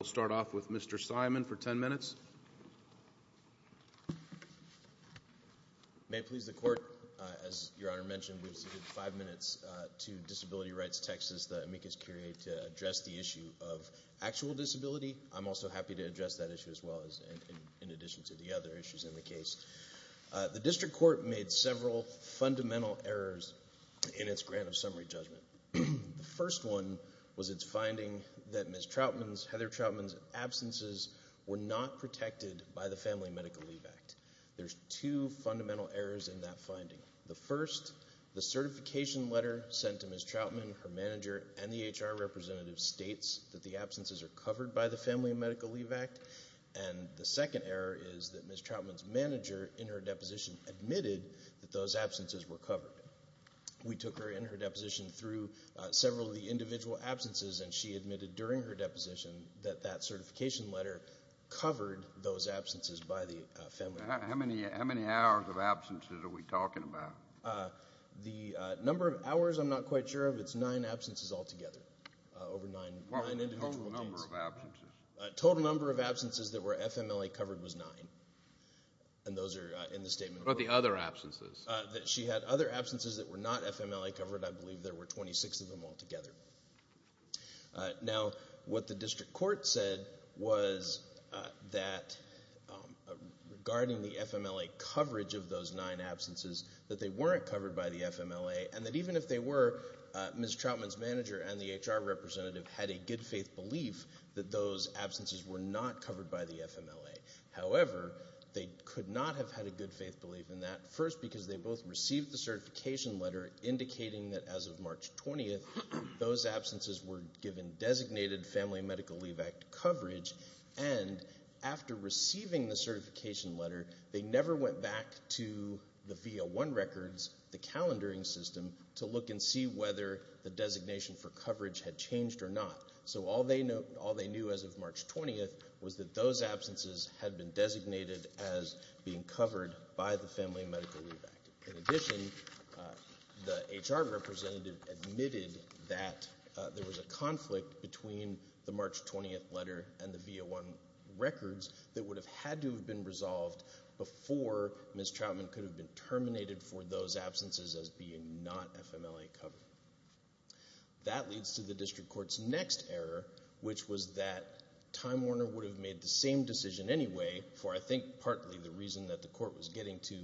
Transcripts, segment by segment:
We'll start off with Mr. Simon for 10 minutes. May it please the Court, as Your Honor mentioned, we've submitted five minutes to Disability Rights Texas, the amicus curiae, to address the issue of actual disability. I'm also happy to address that issue as well, in addition to the other issues in the case. The District Court made several fundamental errors in its grant of summary judgment. The first one was its finding that Ms. Trautman's, Heather Trautman's, absences were not protected by the Family Medical Leave Act. There's two fundamental errors in that finding. The first, the certification letter sent to Ms. Trautman, her manager, and the HR representative states that the absences are covered by the Family Medical Leave Act. And the second error is that Ms. Trautman's manager in her deposition admitted that those absences were covered. We took her in her deposition through several of the individual absences, and she admitted during her deposition that that certification letter covered those absences by the Family Medical Leave Act. How many hours of absences are we talking about? The number of hours I'm not quite sure of, it's nine absences altogether, over nine individual days. What was the total number of absences? The total number of absences that were FMLA covered was nine, and those are in the statement. What about the other absences? She had other absences that were not FMLA covered. I believe there were 26 of them altogether. Now, what the district court said was that regarding the FMLA coverage of those nine absences, that they weren't covered by the FMLA, and that even if they were, Ms. Trautman's manager and the HR representative had a good faith belief that those absences were not covered by the FMLA. However, they could not have had a good faith belief in that, first because they both received the certification letter indicating that as of March 20th, those absences were given designated Family Medical Leave Act coverage, and after receiving the certification letter, they never went back to the V01 records, the calendaring system, to look and see whether the designation for coverage had changed or not. So all they knew as of March 20th was that those absences had been designated as being covered by the Family Medical Leave Act. In addition, the HR representative admitted that there was a conflict between the March 20th letter and the V01 records that would have had to have been resolved before Ms. Trautman could have been terminated for those absences as being not FMLA covered. That leads to the district court's next error, which was that Time Warner would have made the same decision anyway, for I think partly the reason that the court was getting to,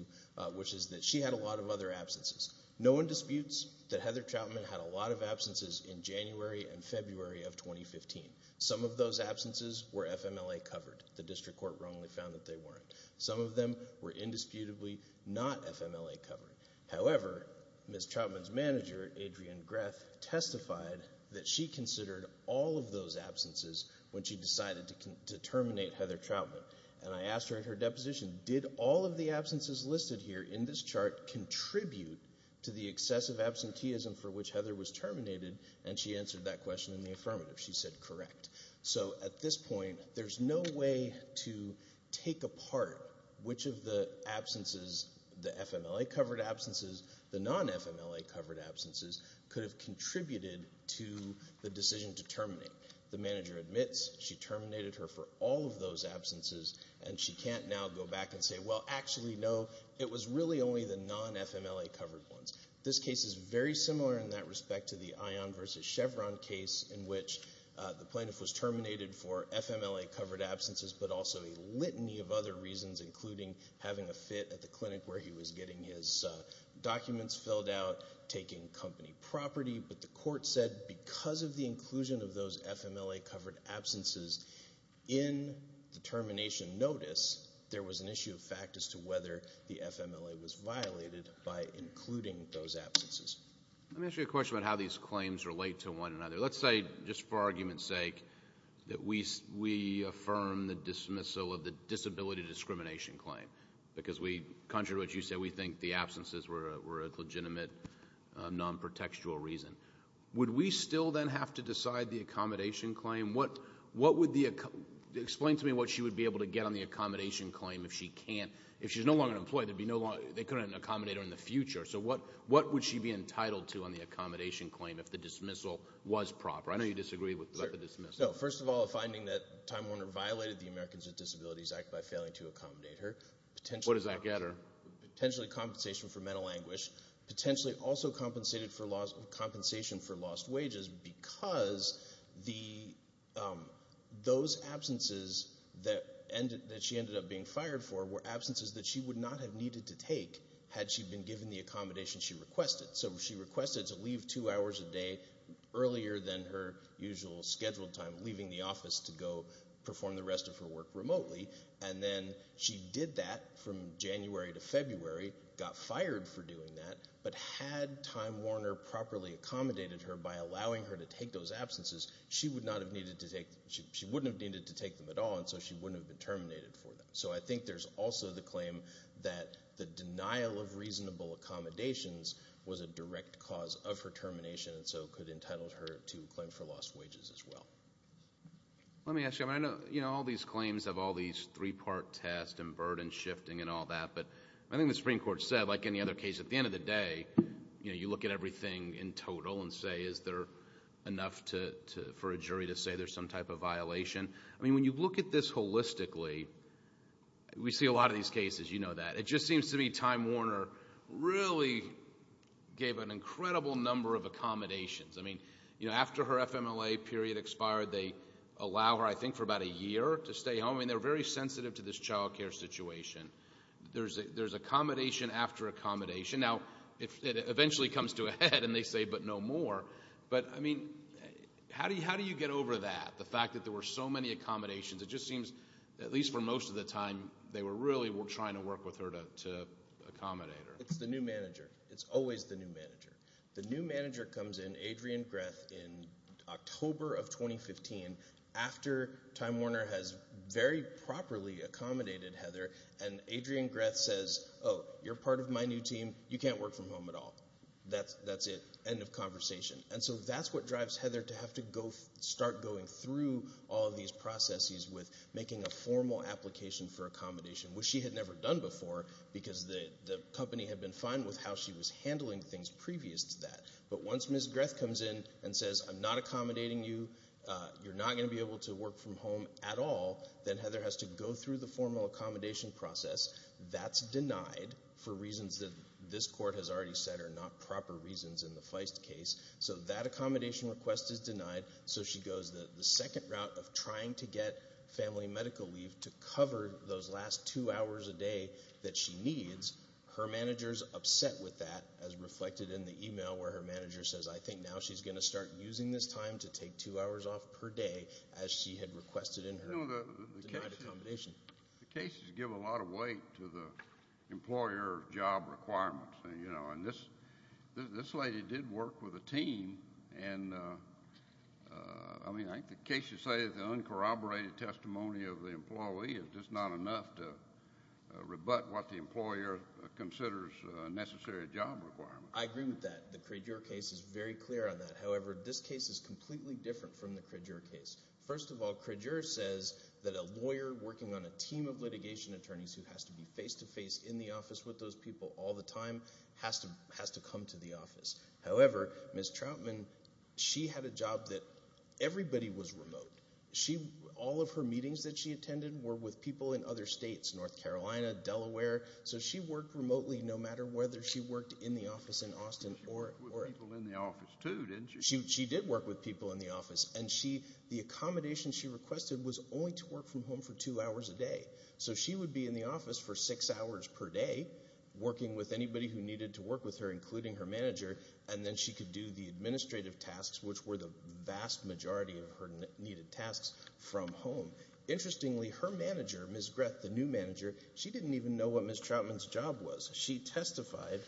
which is that she had a lot of other absences. No one disputes that Heather Trautman had a lot of absences in January and February of 2015. Some of those absences were FMLA covered. The district court wrongly found that they weren't. Some of them were indisputably not FMLA covered. However, Ms. Trautman's manager, Adrienne Greff, testified that she considered all of those absences when she decided to terminate Heather Trautman. And I asked her at her deposition, did all of the absences listed here in this chart contribute to the excessive absenteeism for which Heather was terminated? And she answered that question in the affirmative. She said, correct. So at this point, there's no way to take apart which of the absences, the FMLA covered absences, the non-FMLA covered absences, could have contributed to the decision to terminate. The manager admits she terminated her for all of those absences, and she can't now go back and say, well, actually, no, it was really only the non-FMLA covered ones. This case is very similar in that respect to the Ion v. Chevron case in which the plaintiff was terminated for FMLA covered absences, but also a litany of other reasons, including having a fit at the clinic where he was getting his documents filled out, taking company property. But the court said because of the inclusion of those FMLA covered absences in the termination notice, there was an issue of fact as to whether the FMLA was violated by including those absences. Let me ask you a question about how these claims relate to one another. Let's say, just for argument's sake, that we affirm the dismissal of the disability discrimination claim because we, contrary to what you said, we think the absences were a legitimate non-protectual reason. Would we still then have to decide the accommodation claim? Explain to me what she would be able to get on the accommodation claim if she can't. If she's no longer employed, they couldn't accommodate her in the future. So what would she be entitled to on the accommodation claim if the dismissal was proper? I know you disagree with the dismissal. First of all, a finding that Time Warner violated the Americans with Disabilities Act by failing to accommodate her. What does that get her? Potentially compensation for mental anguish. Potentially also compensation for lost wages because those absences that she ended up being fired for were absences that she would not have needed to take had she been given the accommodation she requested. So she requested to leave two hours a day earlier than her usual scheduled time, leaving the office to go perform the rest of her work remotely. And then she did that from January to February, got fired for doing that. But had Time Warner properly accommodated her by allowing her to take those absences, she wouldn't have needed to take them at all, and so she wouldn't have been terminated for them. So I think there's also the claim that the denial of reasonable accommodations was a direct cause of her termination and so could entitle her to a claim for lost wages as well. Let me ask you. I know all these claims have all these three-part tests and burden shifting and all that, but I think the Supreme Court said, like any other case, at the end of the day, you look at everything in total and say, is there enough for a jury to say there's some type of violation? I mean, when you look at this holistically, we see a lot of these cases, you know that. It just seems to me Time Warner really gave an incredible number of accommodations. I mean, after her FMLA period expired, they allow her, I think, for about a year to stay home, and they're very sensitive to this child care situation. There's accommodation after accommodation. Now, it eventually comes to a head, and they say, but no more. But, I mean, how do you get over that, the fact that there were so many accommodations? It just seems, at least for most of the time, they were really trying to work with her to accommodate her. It's the new manager. It's always the new manager. The new manager comes in, Adrian Greth, in October of 2015, after Time Warner has very properly accommodated Heather, and Adrian Greth says, oh, you're part of my new team, you can't work from home at all. That's it. End of conversation. And so that's what drives Heather to have to start going through all of these processes with making a formal application for accommodation, which she had never done before, because the company had been fine with how she was handling things previous to that. But once Ms. Greth comes in and says, I'm not accommodating you, you're not going to be able to work from home at all, then Heather has to go through the formal accommodation process. That's denied for reasons that this court has already said are not proper reasons in the Feist case. So that accommodation request is denied. So she goes the second route of trying to get family medical leave to cover those last two hours a day that she needs. Her manager is upset with that, as reflected in the e-mail where her manager says, I think now she's going to start using this time to take two hours off per day, as she had requested in her denied accommodation. The cases give a lot of weight to the employer job requirements. And this lady did work with a team, and I mean, I think the case should say that the uncorroborated testimony of the employee is just not enough to rebut what the employer considers a necessary job requirement. I agree with that. The Cradier case is very clear on that. However, this case is completely different from the Cradier case. First of all, Cradier says that a lawyer working on a team of litigation attorneys who has to be face-to-face in the office with those people all the time has to come to the office. However, Ms. Troutman, she had a job that everybody was remote. All of her meetings that she attended were with people in other states, North Carolina, Delaware. So she worked remotely no matter whether she worked in the office in Austin. She worked with people in the office too, didn't she? She did work with people in the office. And the accommodation she requested was only to work from home for two hours a day. So she would be in the office for six hours per day, working with anybody who needed to work with her, including her manager, and then she could do the administrative tasks, which were the vast majority of her needed tasks, from home. Interestingly, her manager, Ms. Greth, the new manager, she didn't even know what Ms. Troutman's job was. She testified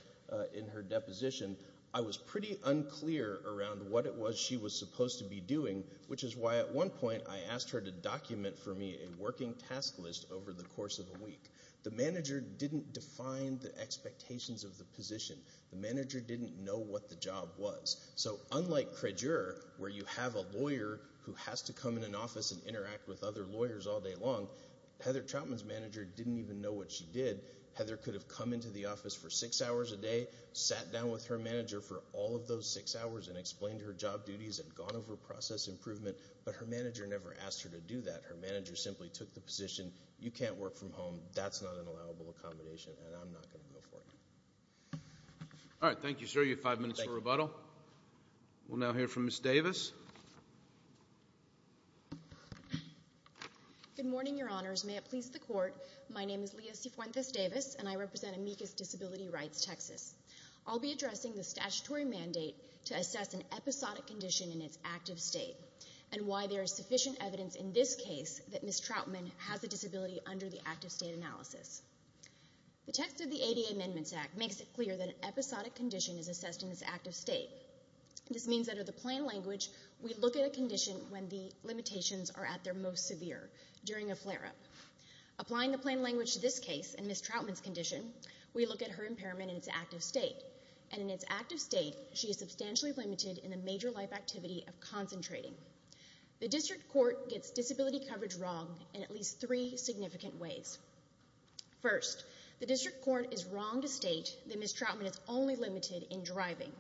in her deposition, I was pretty unclear around what it was she was supposed to be doing, which is why at one point I asked her to document for me a working task list over the course of a week. The manager didn't define the expectations of the position. The manager didn't know what the job was. So unlike Krijer, where you have a lawyer who has to come in an office and interact with other lawyers all day long, Heather Troutman's manager didn't even know what she did. Heather could have come into the office for six hours a day, sat down with her manager for all of those six hours and explained her job duties and gone over process improvement, but her manager never asked her to do that. Her manager simply took the position, you can't work from home, that's not an allowable accommodation, and I'm not going to go for it. All right, thank you, sir. You have five minutes for rebuttal. We'll now hear from Ms. Davis. Good morning, Your Honors. May it please the Court, my name is Leah Cifuentes Davis and I represent Amicus Disability Rights, Texas. I'll be addressing the statutory mandate to assess an episodic condition in its active state and why there is sufficient evidence in this case that Ms. Troutman has a disability under the active state analysis. The text of the ADA Amendments Act makes it clear that an episodic condition is assessed in its active state. This means that under the plain language, we look at a condition when the limitations are at their most severe, during a flare-up. Applying the plain language to this case and Ms. Troutman's condition, we look at her impairment in its active state, and in its active state, she is substantially limited in the major life activity of concentrating. The District Court gets disability coverage wrong in at least three significant ways. First, the District Court is wrong to state that Ms. Troutman is only limited in driving,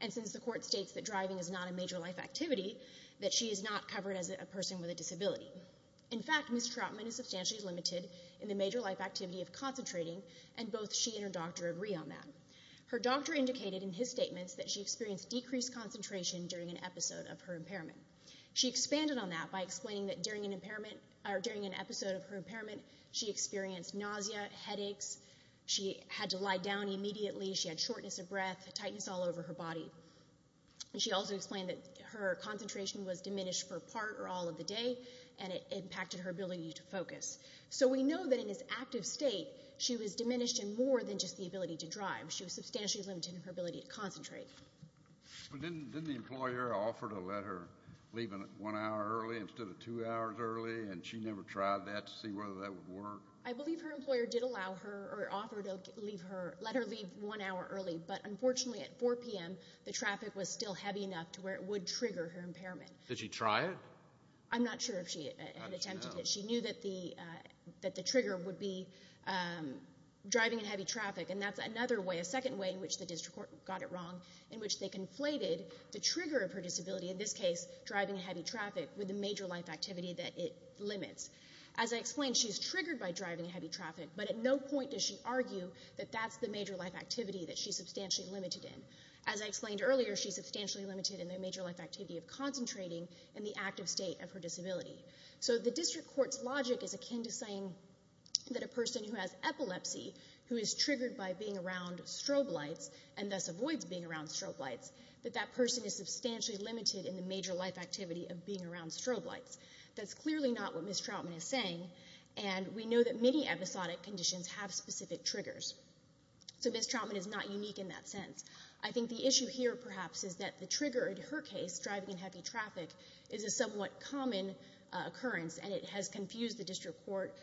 and since the Court states that driving is not a major life activity, that she is not covered as a person with a disability. In fact, Ms. Troutman is substantially limited in the major life activity of concentrating, and both she and her doctor agree on that. Her doctor indicated in his statements that she experienced decreased concentration during an episode of her impairment. She expanded on that by explaining that during an episode of her impairment, she experienced nausea, headaches. She had to lie down immediately. She had shortness of breath, tightness all over her body. She also explained that her concentration was diminished for part or all of the day, and it impacted her ability to focus. So we know that in its active state, she was diminished in more than just the ability to drive. She was substantially limited in her ability to concentrate. Didn't the employer offer to let her leave one hour early instead of two hours early, and she never tried that to see whether that would work? I believe her employer did allow her or offer to let her leave one hour early, but unfortunately at 4 p.m. the traffic was still heavy enough to where it would trigger her impairment. Did she try it? I'm not sure if she had attempted it. She knew that the trigger would be driving in heavy traffic, and that's another way, a second way in which the district court got it wrong, in which they conflated the trigger of her disability, in this case driving in heavy traffic, with the major life activity that it limits. As I explained, she's triggered by driving in heavy traffic, but at no point does she argue that that's the major life activity that she's substantially limited in. As I explained earlier, she's substantially limited in the major life activity of concentrating in the active state of her disability. So the district court's logic is akin to saying that a person who has epilepsy, who is triggered by being around strobe lights and thus avoids being around strobe lights, that that person is substantially limited in the major life activity of being around strobe lights. That's clearly not what Ms. Troutman is saying, and we know that many episodic conditions have specific triggers. So Ms. Troutman is not unique in that sense. I think the issue here perhaps is that the trigger in her case, driving in heavy traffic, is a somewhat common occurrence, and it has confused the district court.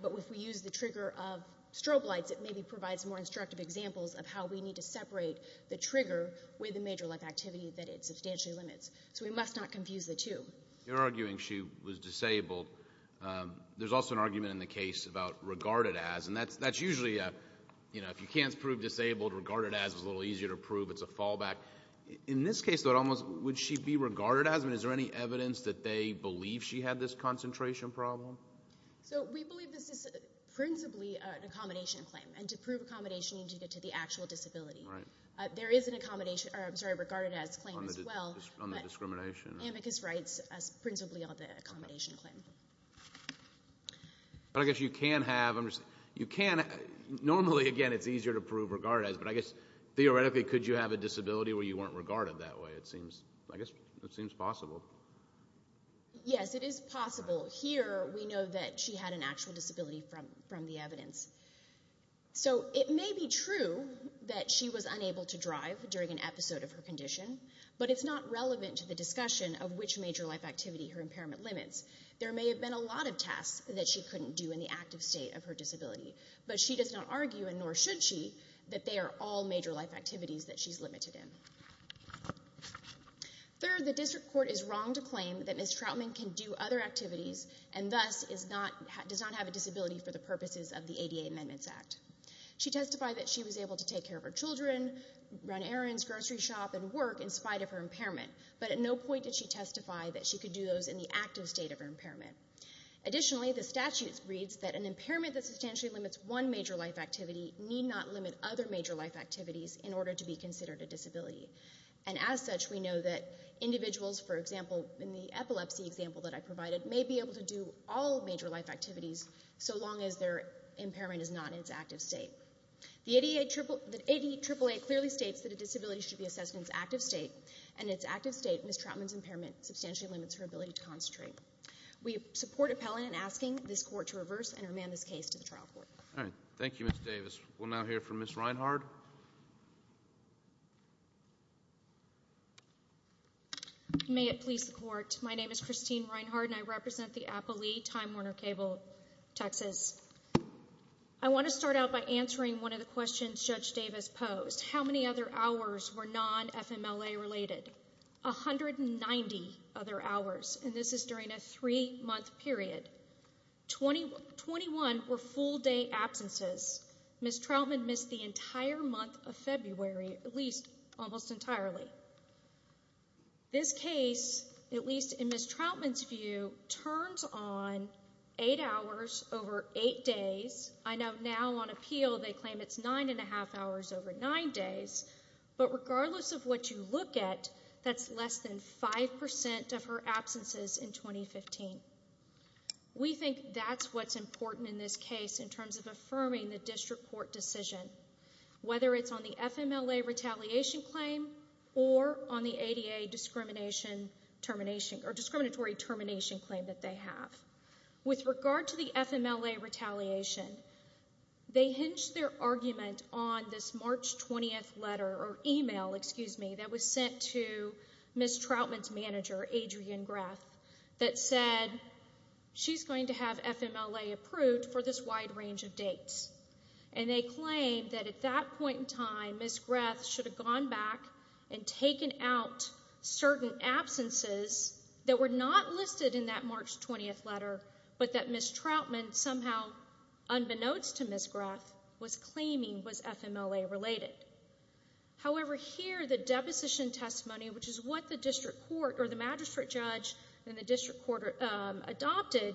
But if we use the trigger of strobe lights, it maybe provides more instructive examples of how we need to separate the trigger with the major life activity that it substantially limits. So we must not confuse the two. You're arguing she was disabled. There's also an argument in the case about regarded as, and that's usually, you know, if you can't prove disabled, regarded as is a little easier to prove. It's a fallback. In this case, though, would she be regarded as? I mean, is there any evidence that they believe she had this concentration problem? So we believe this is principally an accommodation claim, and to prove accommodation you need to get to the actual disability. There is a regarded as claim as well. On the discrimination? Amicus writes principally on the accommodation claim. I guess you can have. Normally, again, it's easier to prove regarded as, but I guess theoretically could you have a disability where you weren't regarded that way? I guess it seems possible. Yes, it is possible. Here we know that she had an actual disability from the evidence. So it may be true that she was unable to drive during an episode of her condition, but it's not relevant to the discussion of which major life activity her impairment limits. There may have been a lot of tasks that she couldn't do in the active state of her disability, but she does not argue, and nor should she, that they are all major life activities that she's limited in. Third, the district court is wrong to claim that Ms. Troutman can do other activities and thus does not have a disability for the purposes of the ADA Amendments Act. She testified that she was able to take care of her children, run errands, grocery shop, and work in spite of her impairment, but at no point did she testify that she could do those in the active state of her impairment. Additionally, the statute reads that an impairment that substantially limits one major life activity need not limit other major life activities in order to be considered a disability. And as such, we know that individuals, for example, in the epilepsy example that I provided, may be able to do all major life activities so long as their impairment is not in its active state. The ADAAA clearly states that a disability should be assessed in its active state, and in its active state, Ms. Troutman's impairment substantially limits her ability to concentrate. We support appellant in asking this court to reverse and remand this case to the trial court. All right, thank you, Ms. Davis. We'll now hear from Ms. Reinhardt. May it please the Court. My name is Christine Reinhardt, and I represent the appellee, Time Warner Cable, Texas. I want to start out by answering one of the questions Judge Davis posed. How many other hours were non-FMLA related? 190 other hours, and this is during a three-month period. 21 were full-day absences. Ms. Troutman missed the entire month of February, at least almost entirely. This case, at least in Ms. Troutman's view, turns on 8 hours over 8 days. I know now on appeal they claim it's 9 1⁄2 hours over 9 days, but regardless of what you look at, that's less than 5% of her absences in 2015. We think that's what's important in this case in terms of affirming the district court decision, whether it's on the FMLA retaliation claim or on the ADA discriminatory termination claim that they have. With regard to the FMLA retaliation, they hinge their argument on this March 20th letter or email, excuse me, that was sent to Ms. Troutman's manager, Adrienne Greff, that said she's going to have FMLA approved for this wide range of dates. And they claim that at that point in time, Ms. Greff should have gone back and taken out certain absences that were not listed in that March 20th letter, but that Ms. Troutman somehow, unbeknownst to Ms. Greff, was claiming was FMLA related. However, here the deposition testimony, which is what the district court or the magistrate judge in the district court adopted,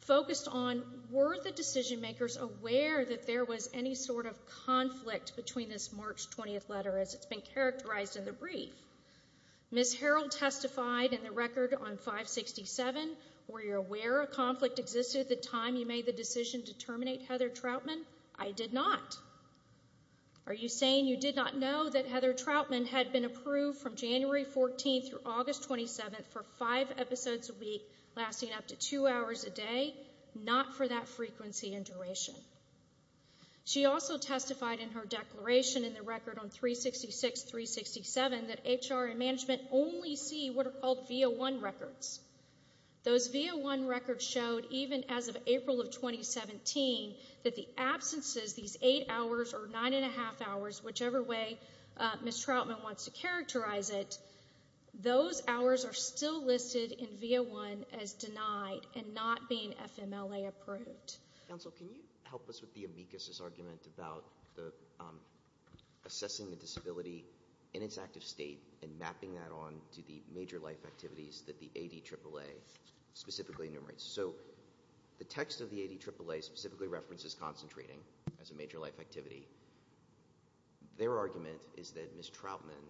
focused on were the decision makers aware that there was any sort of conflict between this March 20th letter as it's been characterized in the brief. Ms. Harrell testified in the record on 567, were you aware a conflict existed at the time you made the decision to terminate Heather Troutman? I did not. Are you saying you did not know that Heather Troutman had been approved from January 14th through August 27th for five episodes a week lasting up to two hours a day? Not for that frequency and duration. She also testified in her declaration in the record on 366, 367, that HR and management only see what are called V01 records. Those V01 records showed, even as of April of 2017, that the absences, these eight hours or nine and a half hours, whichever way Ms. Troutman wants to characterize it, those hours are still listed in V01 as denied and not being FMLA approved. Counsel, can you help us with the amicus' argument about assessing the disability in its active state and mapping that on to the major life activities that the ADAAA specifically enumerates? So the text of the ADAAA specifically references concentrating as a major life activity. Their argument is that Ms. Troutman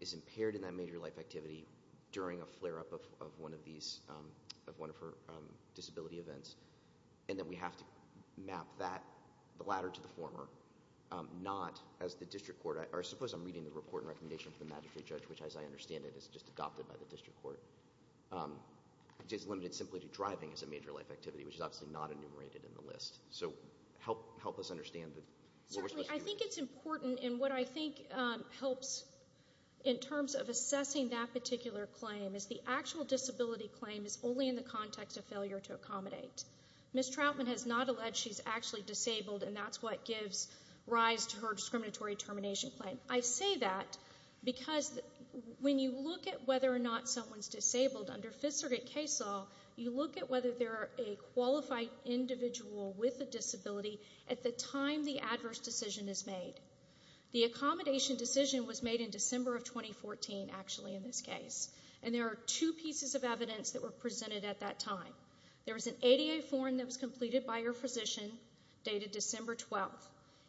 is impaired in that major life activity during a flare-up of one of her disability events and that we have to map that, the latter to the former, not as the district court. Or suppose I'm reading the report and recommendation from the magistrate judge, which as I understand it is just adopted by the district court, which is limited simply to driving as a major life activity, which is obviously not enumerated in the list. So help us understand what we're supposed to do. Certainly. I think it's important. And what I think helps in terms of assessing that particular claim is the actual disability claim is only in the context of failure to accommodate. Ms. Troutman has not alleged she's actually disabled, and that's what gives rise to her discriminatory termination claim. I say that because when you look at whether or not someone's disabled under Fifth Circuit case law, you look at whether they're a qualified individual with a disability at the time the adverse decision is made. The accommodation decision was made in December of 2014, actually, in this case, and there are two pieces of evidence that were presented at that time. There was an ADA form that was completed by her physician dated December 12th.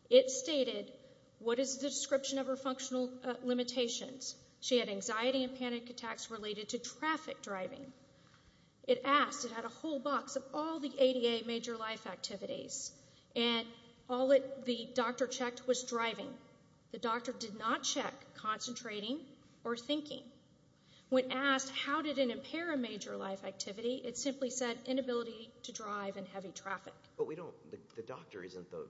It stated what is the description of her functional limitations. She had anxiety and panic attacks related to traffic driving. It asked, it had a whole box of all the ADA major life activities, and all the doctor checked was driving. The doctor did not check concentrating or thinking. When asked how did it impair a major life activity, it simply said inability to drive in heavy traffic. But we don't, the doctor isn't the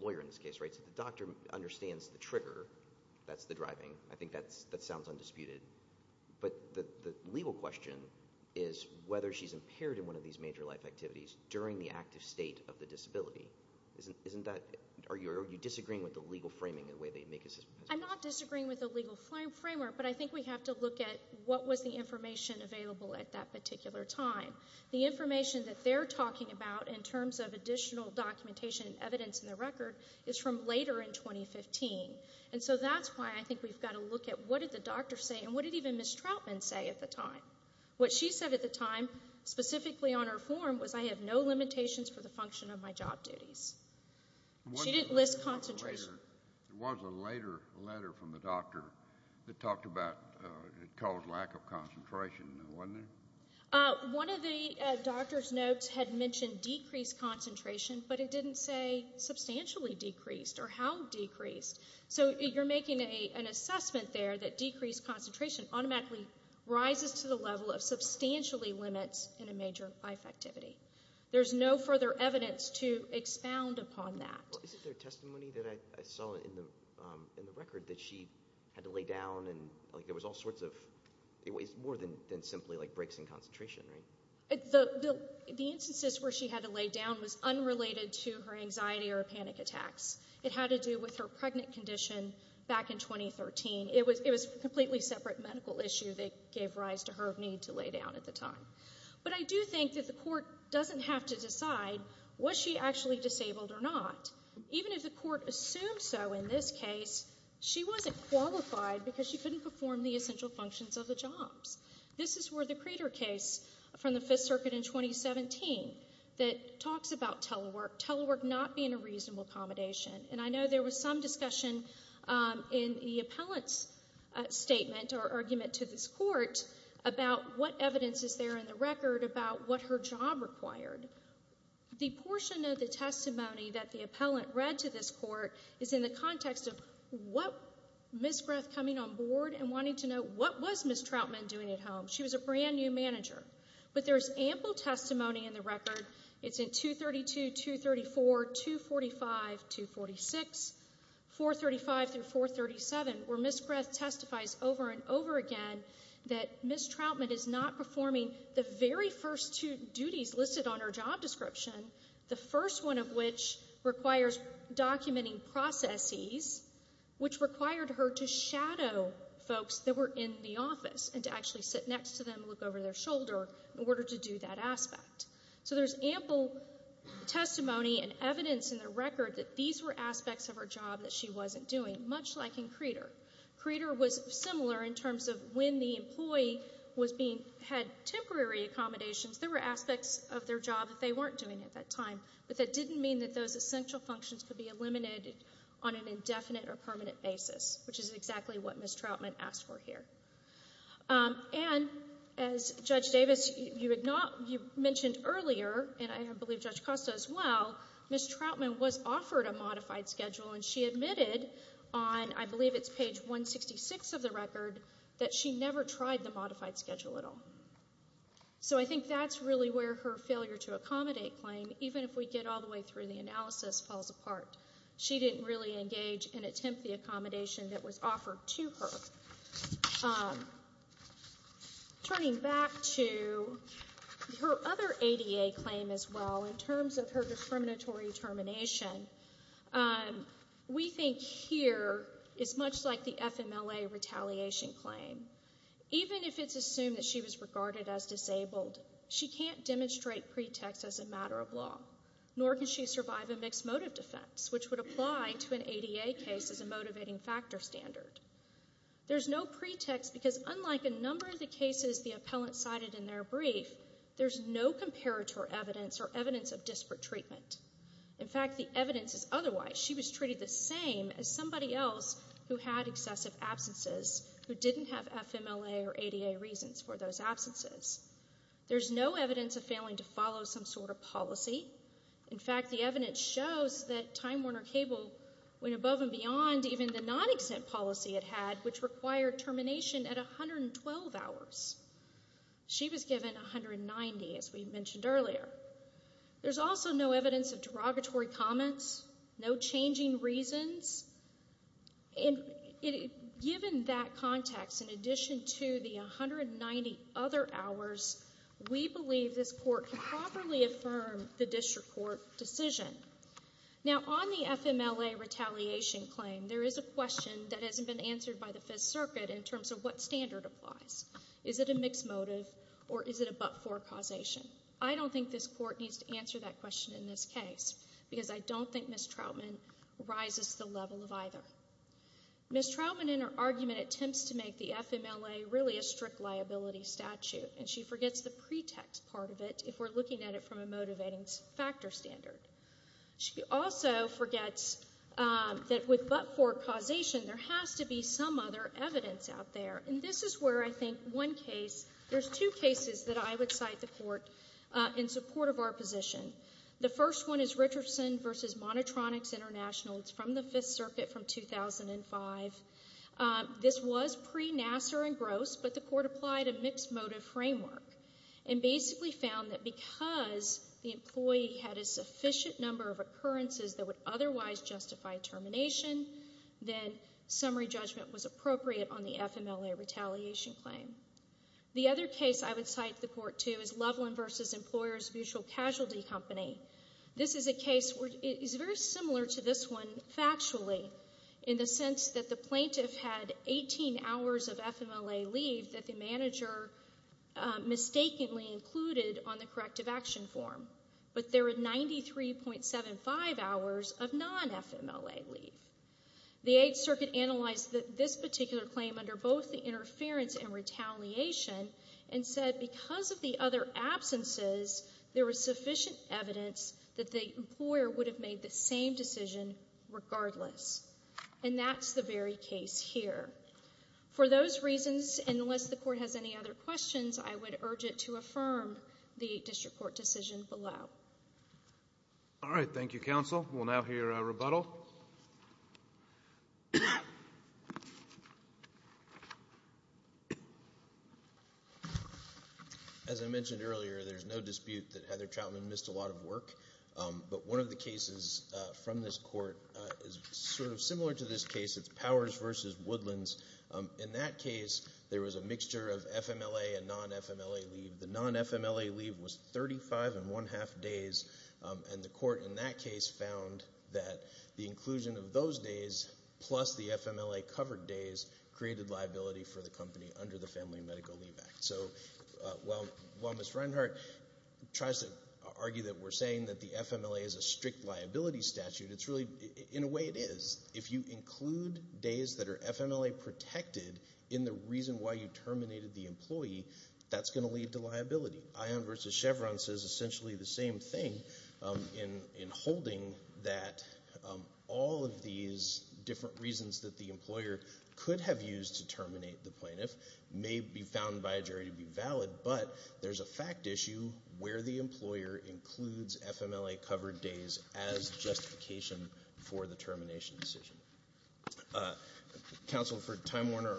lawyer in this case, right? So the doctor understands the trigger. That's the driving. I think that sounds undisputed. But the legal question is whether she's impaired in one of these major life activities during the active state of the disability. Isn't that, are you disagreeing with the legal framing in the way they make it? I'm not disagreeing with the legal framework, but I think we have to look at what was the information available at that particular time. The information that they're talking about in terms of additional documentation and evidence in the record is from later in 2015. And so that's why I think we've got to look at what did the doctor say and what did even Ms. Troutman say at the time. What she said at the time, specifically on her form, was I have no limitations for the function of my job duties. She didn't list concentration. There was a later letter from the doctor that talked about, it caused lack of concentration, wasn't there? One of the doctor's notes had mentioned decreased concentration, but it didn't say substantially decreased or how decreased. So you're making an assessment there that decreased concentration automatically rises to the level of substantially limits in a major life activity. There's no further evidence to expound upon that. Isn't there testimony that I saw in the record that she had to lay down and there was all sorts of, more than simply breaks in concentration, right? The instances where she had to lay down was unrelated to her anxiety or panic attacks. It had to do with her pregnant condition back in 2013. It was a completely separate medical issue that gave rise to her need to lay down at the time. But I do think that the court doesn't have to decide was she actually disabled or not. Even if the court assumed so in this case, she wasn't qualified because she couldn't perform the essential functions of the jobs. This is where the Creter case from the Fifth Circuit in 2017 that talks about telework, telework not being a reasonable accommodation, and I know there was some discussion in the appellant's statement or argument to this court about what evidence is there in the record about what her job required. The portion of the testimony that the appellant read to this court is in the context of what Ms. Greth coming on board and wanting to know what was Ms. Troutman doing at home. She was a brand new manager. But there's ample testimony in the record. It's in 232, 234, 245, 246, 435 through 437 where Ms. Greth testifies over and over again that Ms. Troutman is not performing the very first two duties listed on her job description, the first one of which requires documenting processes, which required her to shadow folks that were in the office and to actually sit next to them and look over their shoulder in order to do that aspect. So there's ample testimony and evidence in the record that these were aspects of her job that she wasn't doing, much like in Creter. Creter was similar in terms of when the employee was being, had temporary accommodations, there were aspects of their job that they weren't doing at that time, but that didn't mean that those essential functions could be eliminated on an indefinite or permanent basis, which is exactly what Ms. Troutman asked for here. And as Judge Davis, you mentioned earlier, and I believe Judge Costa as well, Ms. Troutman was offered a modified schedule, and she admitted on, I believe it's page 166 of the record, that she never tried the modified schedule at all. So I think that's really where her failure to accommodate claim, even if we get all the way through the analysis, falls apart. She didn't really engage and attempt the accommodation that was offered to her. Turning back to her other ADA claim as well, in terms of her discriminatory termination, we think here it's much like the FMLA retaliation claim. Even if it's assumed that she was regarded as disabled, she can't demonstrate pretext as a matter of law, nor can she survive a mixed motive defense, which would apply to an ADA case as a motivating factor standard. There's no pretext because unlike a number of the cases the appellant cited in their brief, there's no comparator evidence or evidence of disparate treatment. In fact, the evidence is otherwise. She was treated the same as somebody else who had excessive absences, who didn't have FMLA or ADA reasons for those absences. There's no evidence of failing to follow some sort of policy. In fact, the evidence shows that Time Warner Cable went above and beyond even the non-exempt policy it had, which required termination at 112 hours. She was given 190, as we mentioned earlier. There's also no evidence of derogatory comments, no changing reasons. Given that context, in addition to the 190 other hours, we believe this Court can properly affirm the district court decision. Now, on the FMLA retaliation claim, there is a question that hasn't been answered by the Fifth Circuit in terms of what standard applies. Is it a mixed motive or is it a but-for causation? I don't think this Court needs to answer that question in this case because I don't think Ms. Troutman rises to the level of either. Ms. Troutman, in her argument, attempts to make the FMLA really a strict liability statute, and she forgets the pretext part of it if we're looking at it from a motivating factor standard. She also forgets that with but-for causation, there has to be some other evidence out there. And this is where I think one case, there's two cases that I would cite the Court in support of our position. The first one is Richardson v. Monotronics International. It's from the Fifth Circuit from 2005. This was pre-Nasser and Gross, but the Court applied a mixed motive framework and basically found that because the employee had a sufficient number of occurrences that would otherwise justify termination, then summary judgment was appropriate on the FMLA retaliation claim. The other case I would cite the Court to is Loveland v. Employers Mutual Casualty Company. This is a case where it is very similar to this one factually in the sense that the plaintiff had 18 hours of FMLA leave that the manager mistakenly included on the corrective action form, but there were 93.75 hours of non-FMLA leave. The Eighth Circuit analyzed this particular claim under both the interference and retaliation and said because of the other absences, there was sufficient evidence that the employer would have made the same decision regardless. And that's the very case here. For those reasons, and unless the Court has any other questions, I would urge it to affirm the Eighth District Court decision below. All right. Thank you, Counsel. We'll now hear a rebuttal. As I mentioned earlier, there's no dispute that Heather Troutman missed a lot of work, but one of the cases from this Court is sort of similar to this case. It's Powers v. Woodlands. In that case, there was a mixture of FMLA and non-FMLA leave. The non-FMLA leave was 35 and one-half days, and the Court in that case found that the inclusion of those days plus the FMLA covered days created liability for the company under the Family and Medical Leave Act. So while Ms. Reinhart tries to argue that we're saying that the FMLA is a strict liability statute, in a way it is. If you include days that are FMLA protected in the reason why you terminated the employee, that's going to lead to liability. Ion v. Chevron says essentially the same thing in holding that all of these different reasons that the employer could have used to terminate the plaintiff may be found by a jury to be valid, but there's a fact issue where the employer includes FMLA covered days as justification for the termination decision. Counsel for Time Warner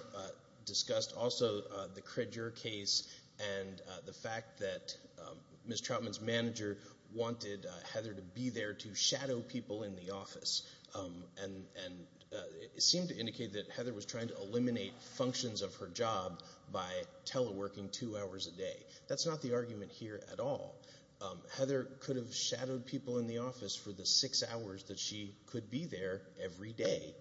discussed also the Kredger case and the fact that Ms. Troutman's manager wanted Heather to be there to shadow people in the office, and it seemed to indicate that Heather was trying to eliminate functions of her job by teleworking two hours a day. That's not the argument here at all. Heather could have shadowed people in the office for the six hours that she could be there every day.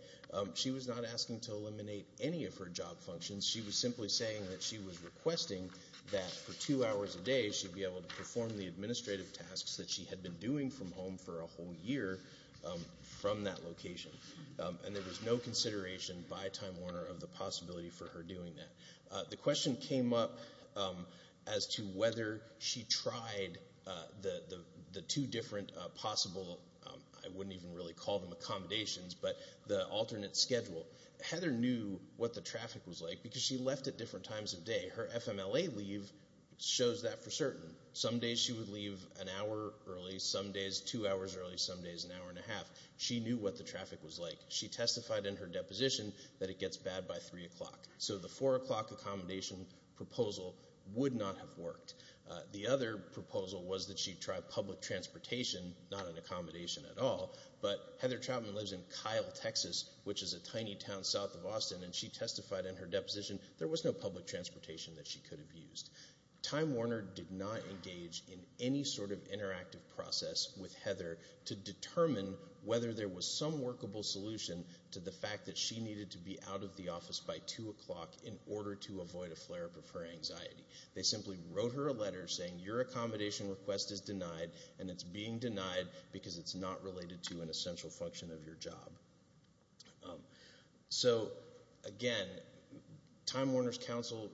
She was not asking to eliminate any of her job functions. She was simply saying that she was requesting that for two hours a day she'd be able to perform the administrative tasks that she had been doing from home for a whole year from that location, and there was no consideration by Time Warner of the possibility for her doing that. The question came up as to whether she tried the two different possible, I wouldn't even really call them accommodations, but the alternate schedule. Heather knew what the traffic was like because she left at different times of day. Her FMLA leave shows that for certain. Some days she would leave an hour early, some days two hours early, some days an hour and a half. She knew what the traffic was like. She testified in her deposition that it gets bad by 3 o'clock. So the 4 o'clock accommodation proposal would not have worked. The other proposal was that she try public transportation, not an accommodation at all, but Heather Trautman lives in Kyle, Texas, which is a tiny town south of Austin, and she testified in her deposition there was no public transportation that she could have used. Time Warner did not engage in any sort of interactive process with Heather to determine whether there was some workable solution to the fact that she needed to be out of the office by 2 o'clock in order to avoid a flare-up of her anxiety. They simply wrote her a letter saying your accommodation request is denied, and it's being denied because it's not related to an essential function of your job. So, again, Time Warner's counsel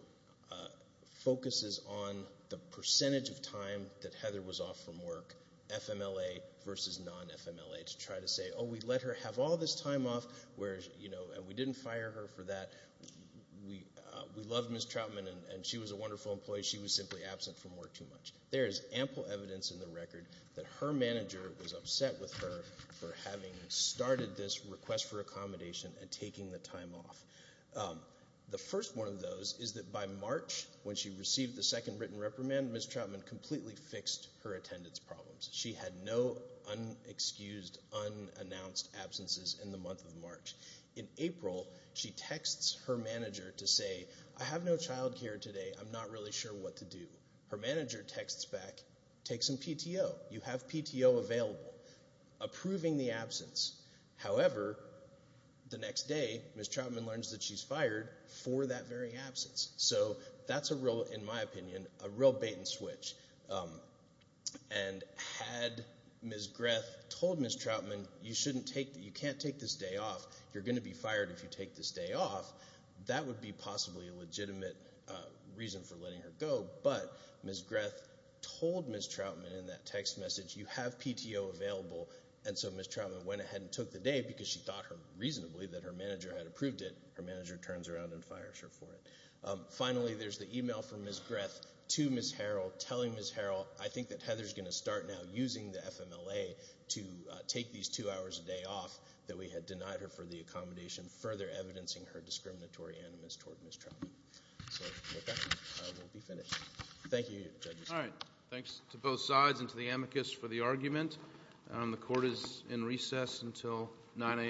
focuses on the percentage of time that Heather was off from work, FMLA versus non-FMLA, to try to say, oh, we let her have all this time off, and we didn't fire her for that. We loved Ms. Trautman, and she was a wonderful employee. She was simply absent from work too much. There is ample evidence in the record that her manager was upset with her for having started this request for accommodation and taking the time off. The first one of those is that by March, when she received the second written reprimand, Ms. Trautman completely fixed her attendance problems. She had no unexcused, unannounced absences in the month of March. In April, she texts her manager to say, I have no child care today. I'm not really sure what to do. Her manager texts back, take some PTO. You have PTO available, approving the absence. However, the next day, Ms. Trautman learns that she's fired for that very absence. So that's a real, in my opinion, a real bait and switch. And had Ms. Greth told Ms. Trautman you can't take this day off, you're going to be fired if you take this day off, that would be possibly a legitimate reason for letting her go. But Ms. Greth told Ms. Trautman in that text message, you have PTO available, and so Ms. Trautman went ahead and took the day because she thought reasonably that her manager had approved it. Her manager turns around and fires her for it. Finally, there's the email from Ms. Greth to Ms. Harrell telling Ms. Harrell, I think that Heather's going to start now using the FMLA to take these two hours a day off that we had denied her for the accommodation, further evidencing her discriminatory animus toward Ms. Trautman. So with that, we'll be finished. Thank you, judges. All right. Thanks to both sides and to the amicus for the argument. The court is in recess until 9 a.m.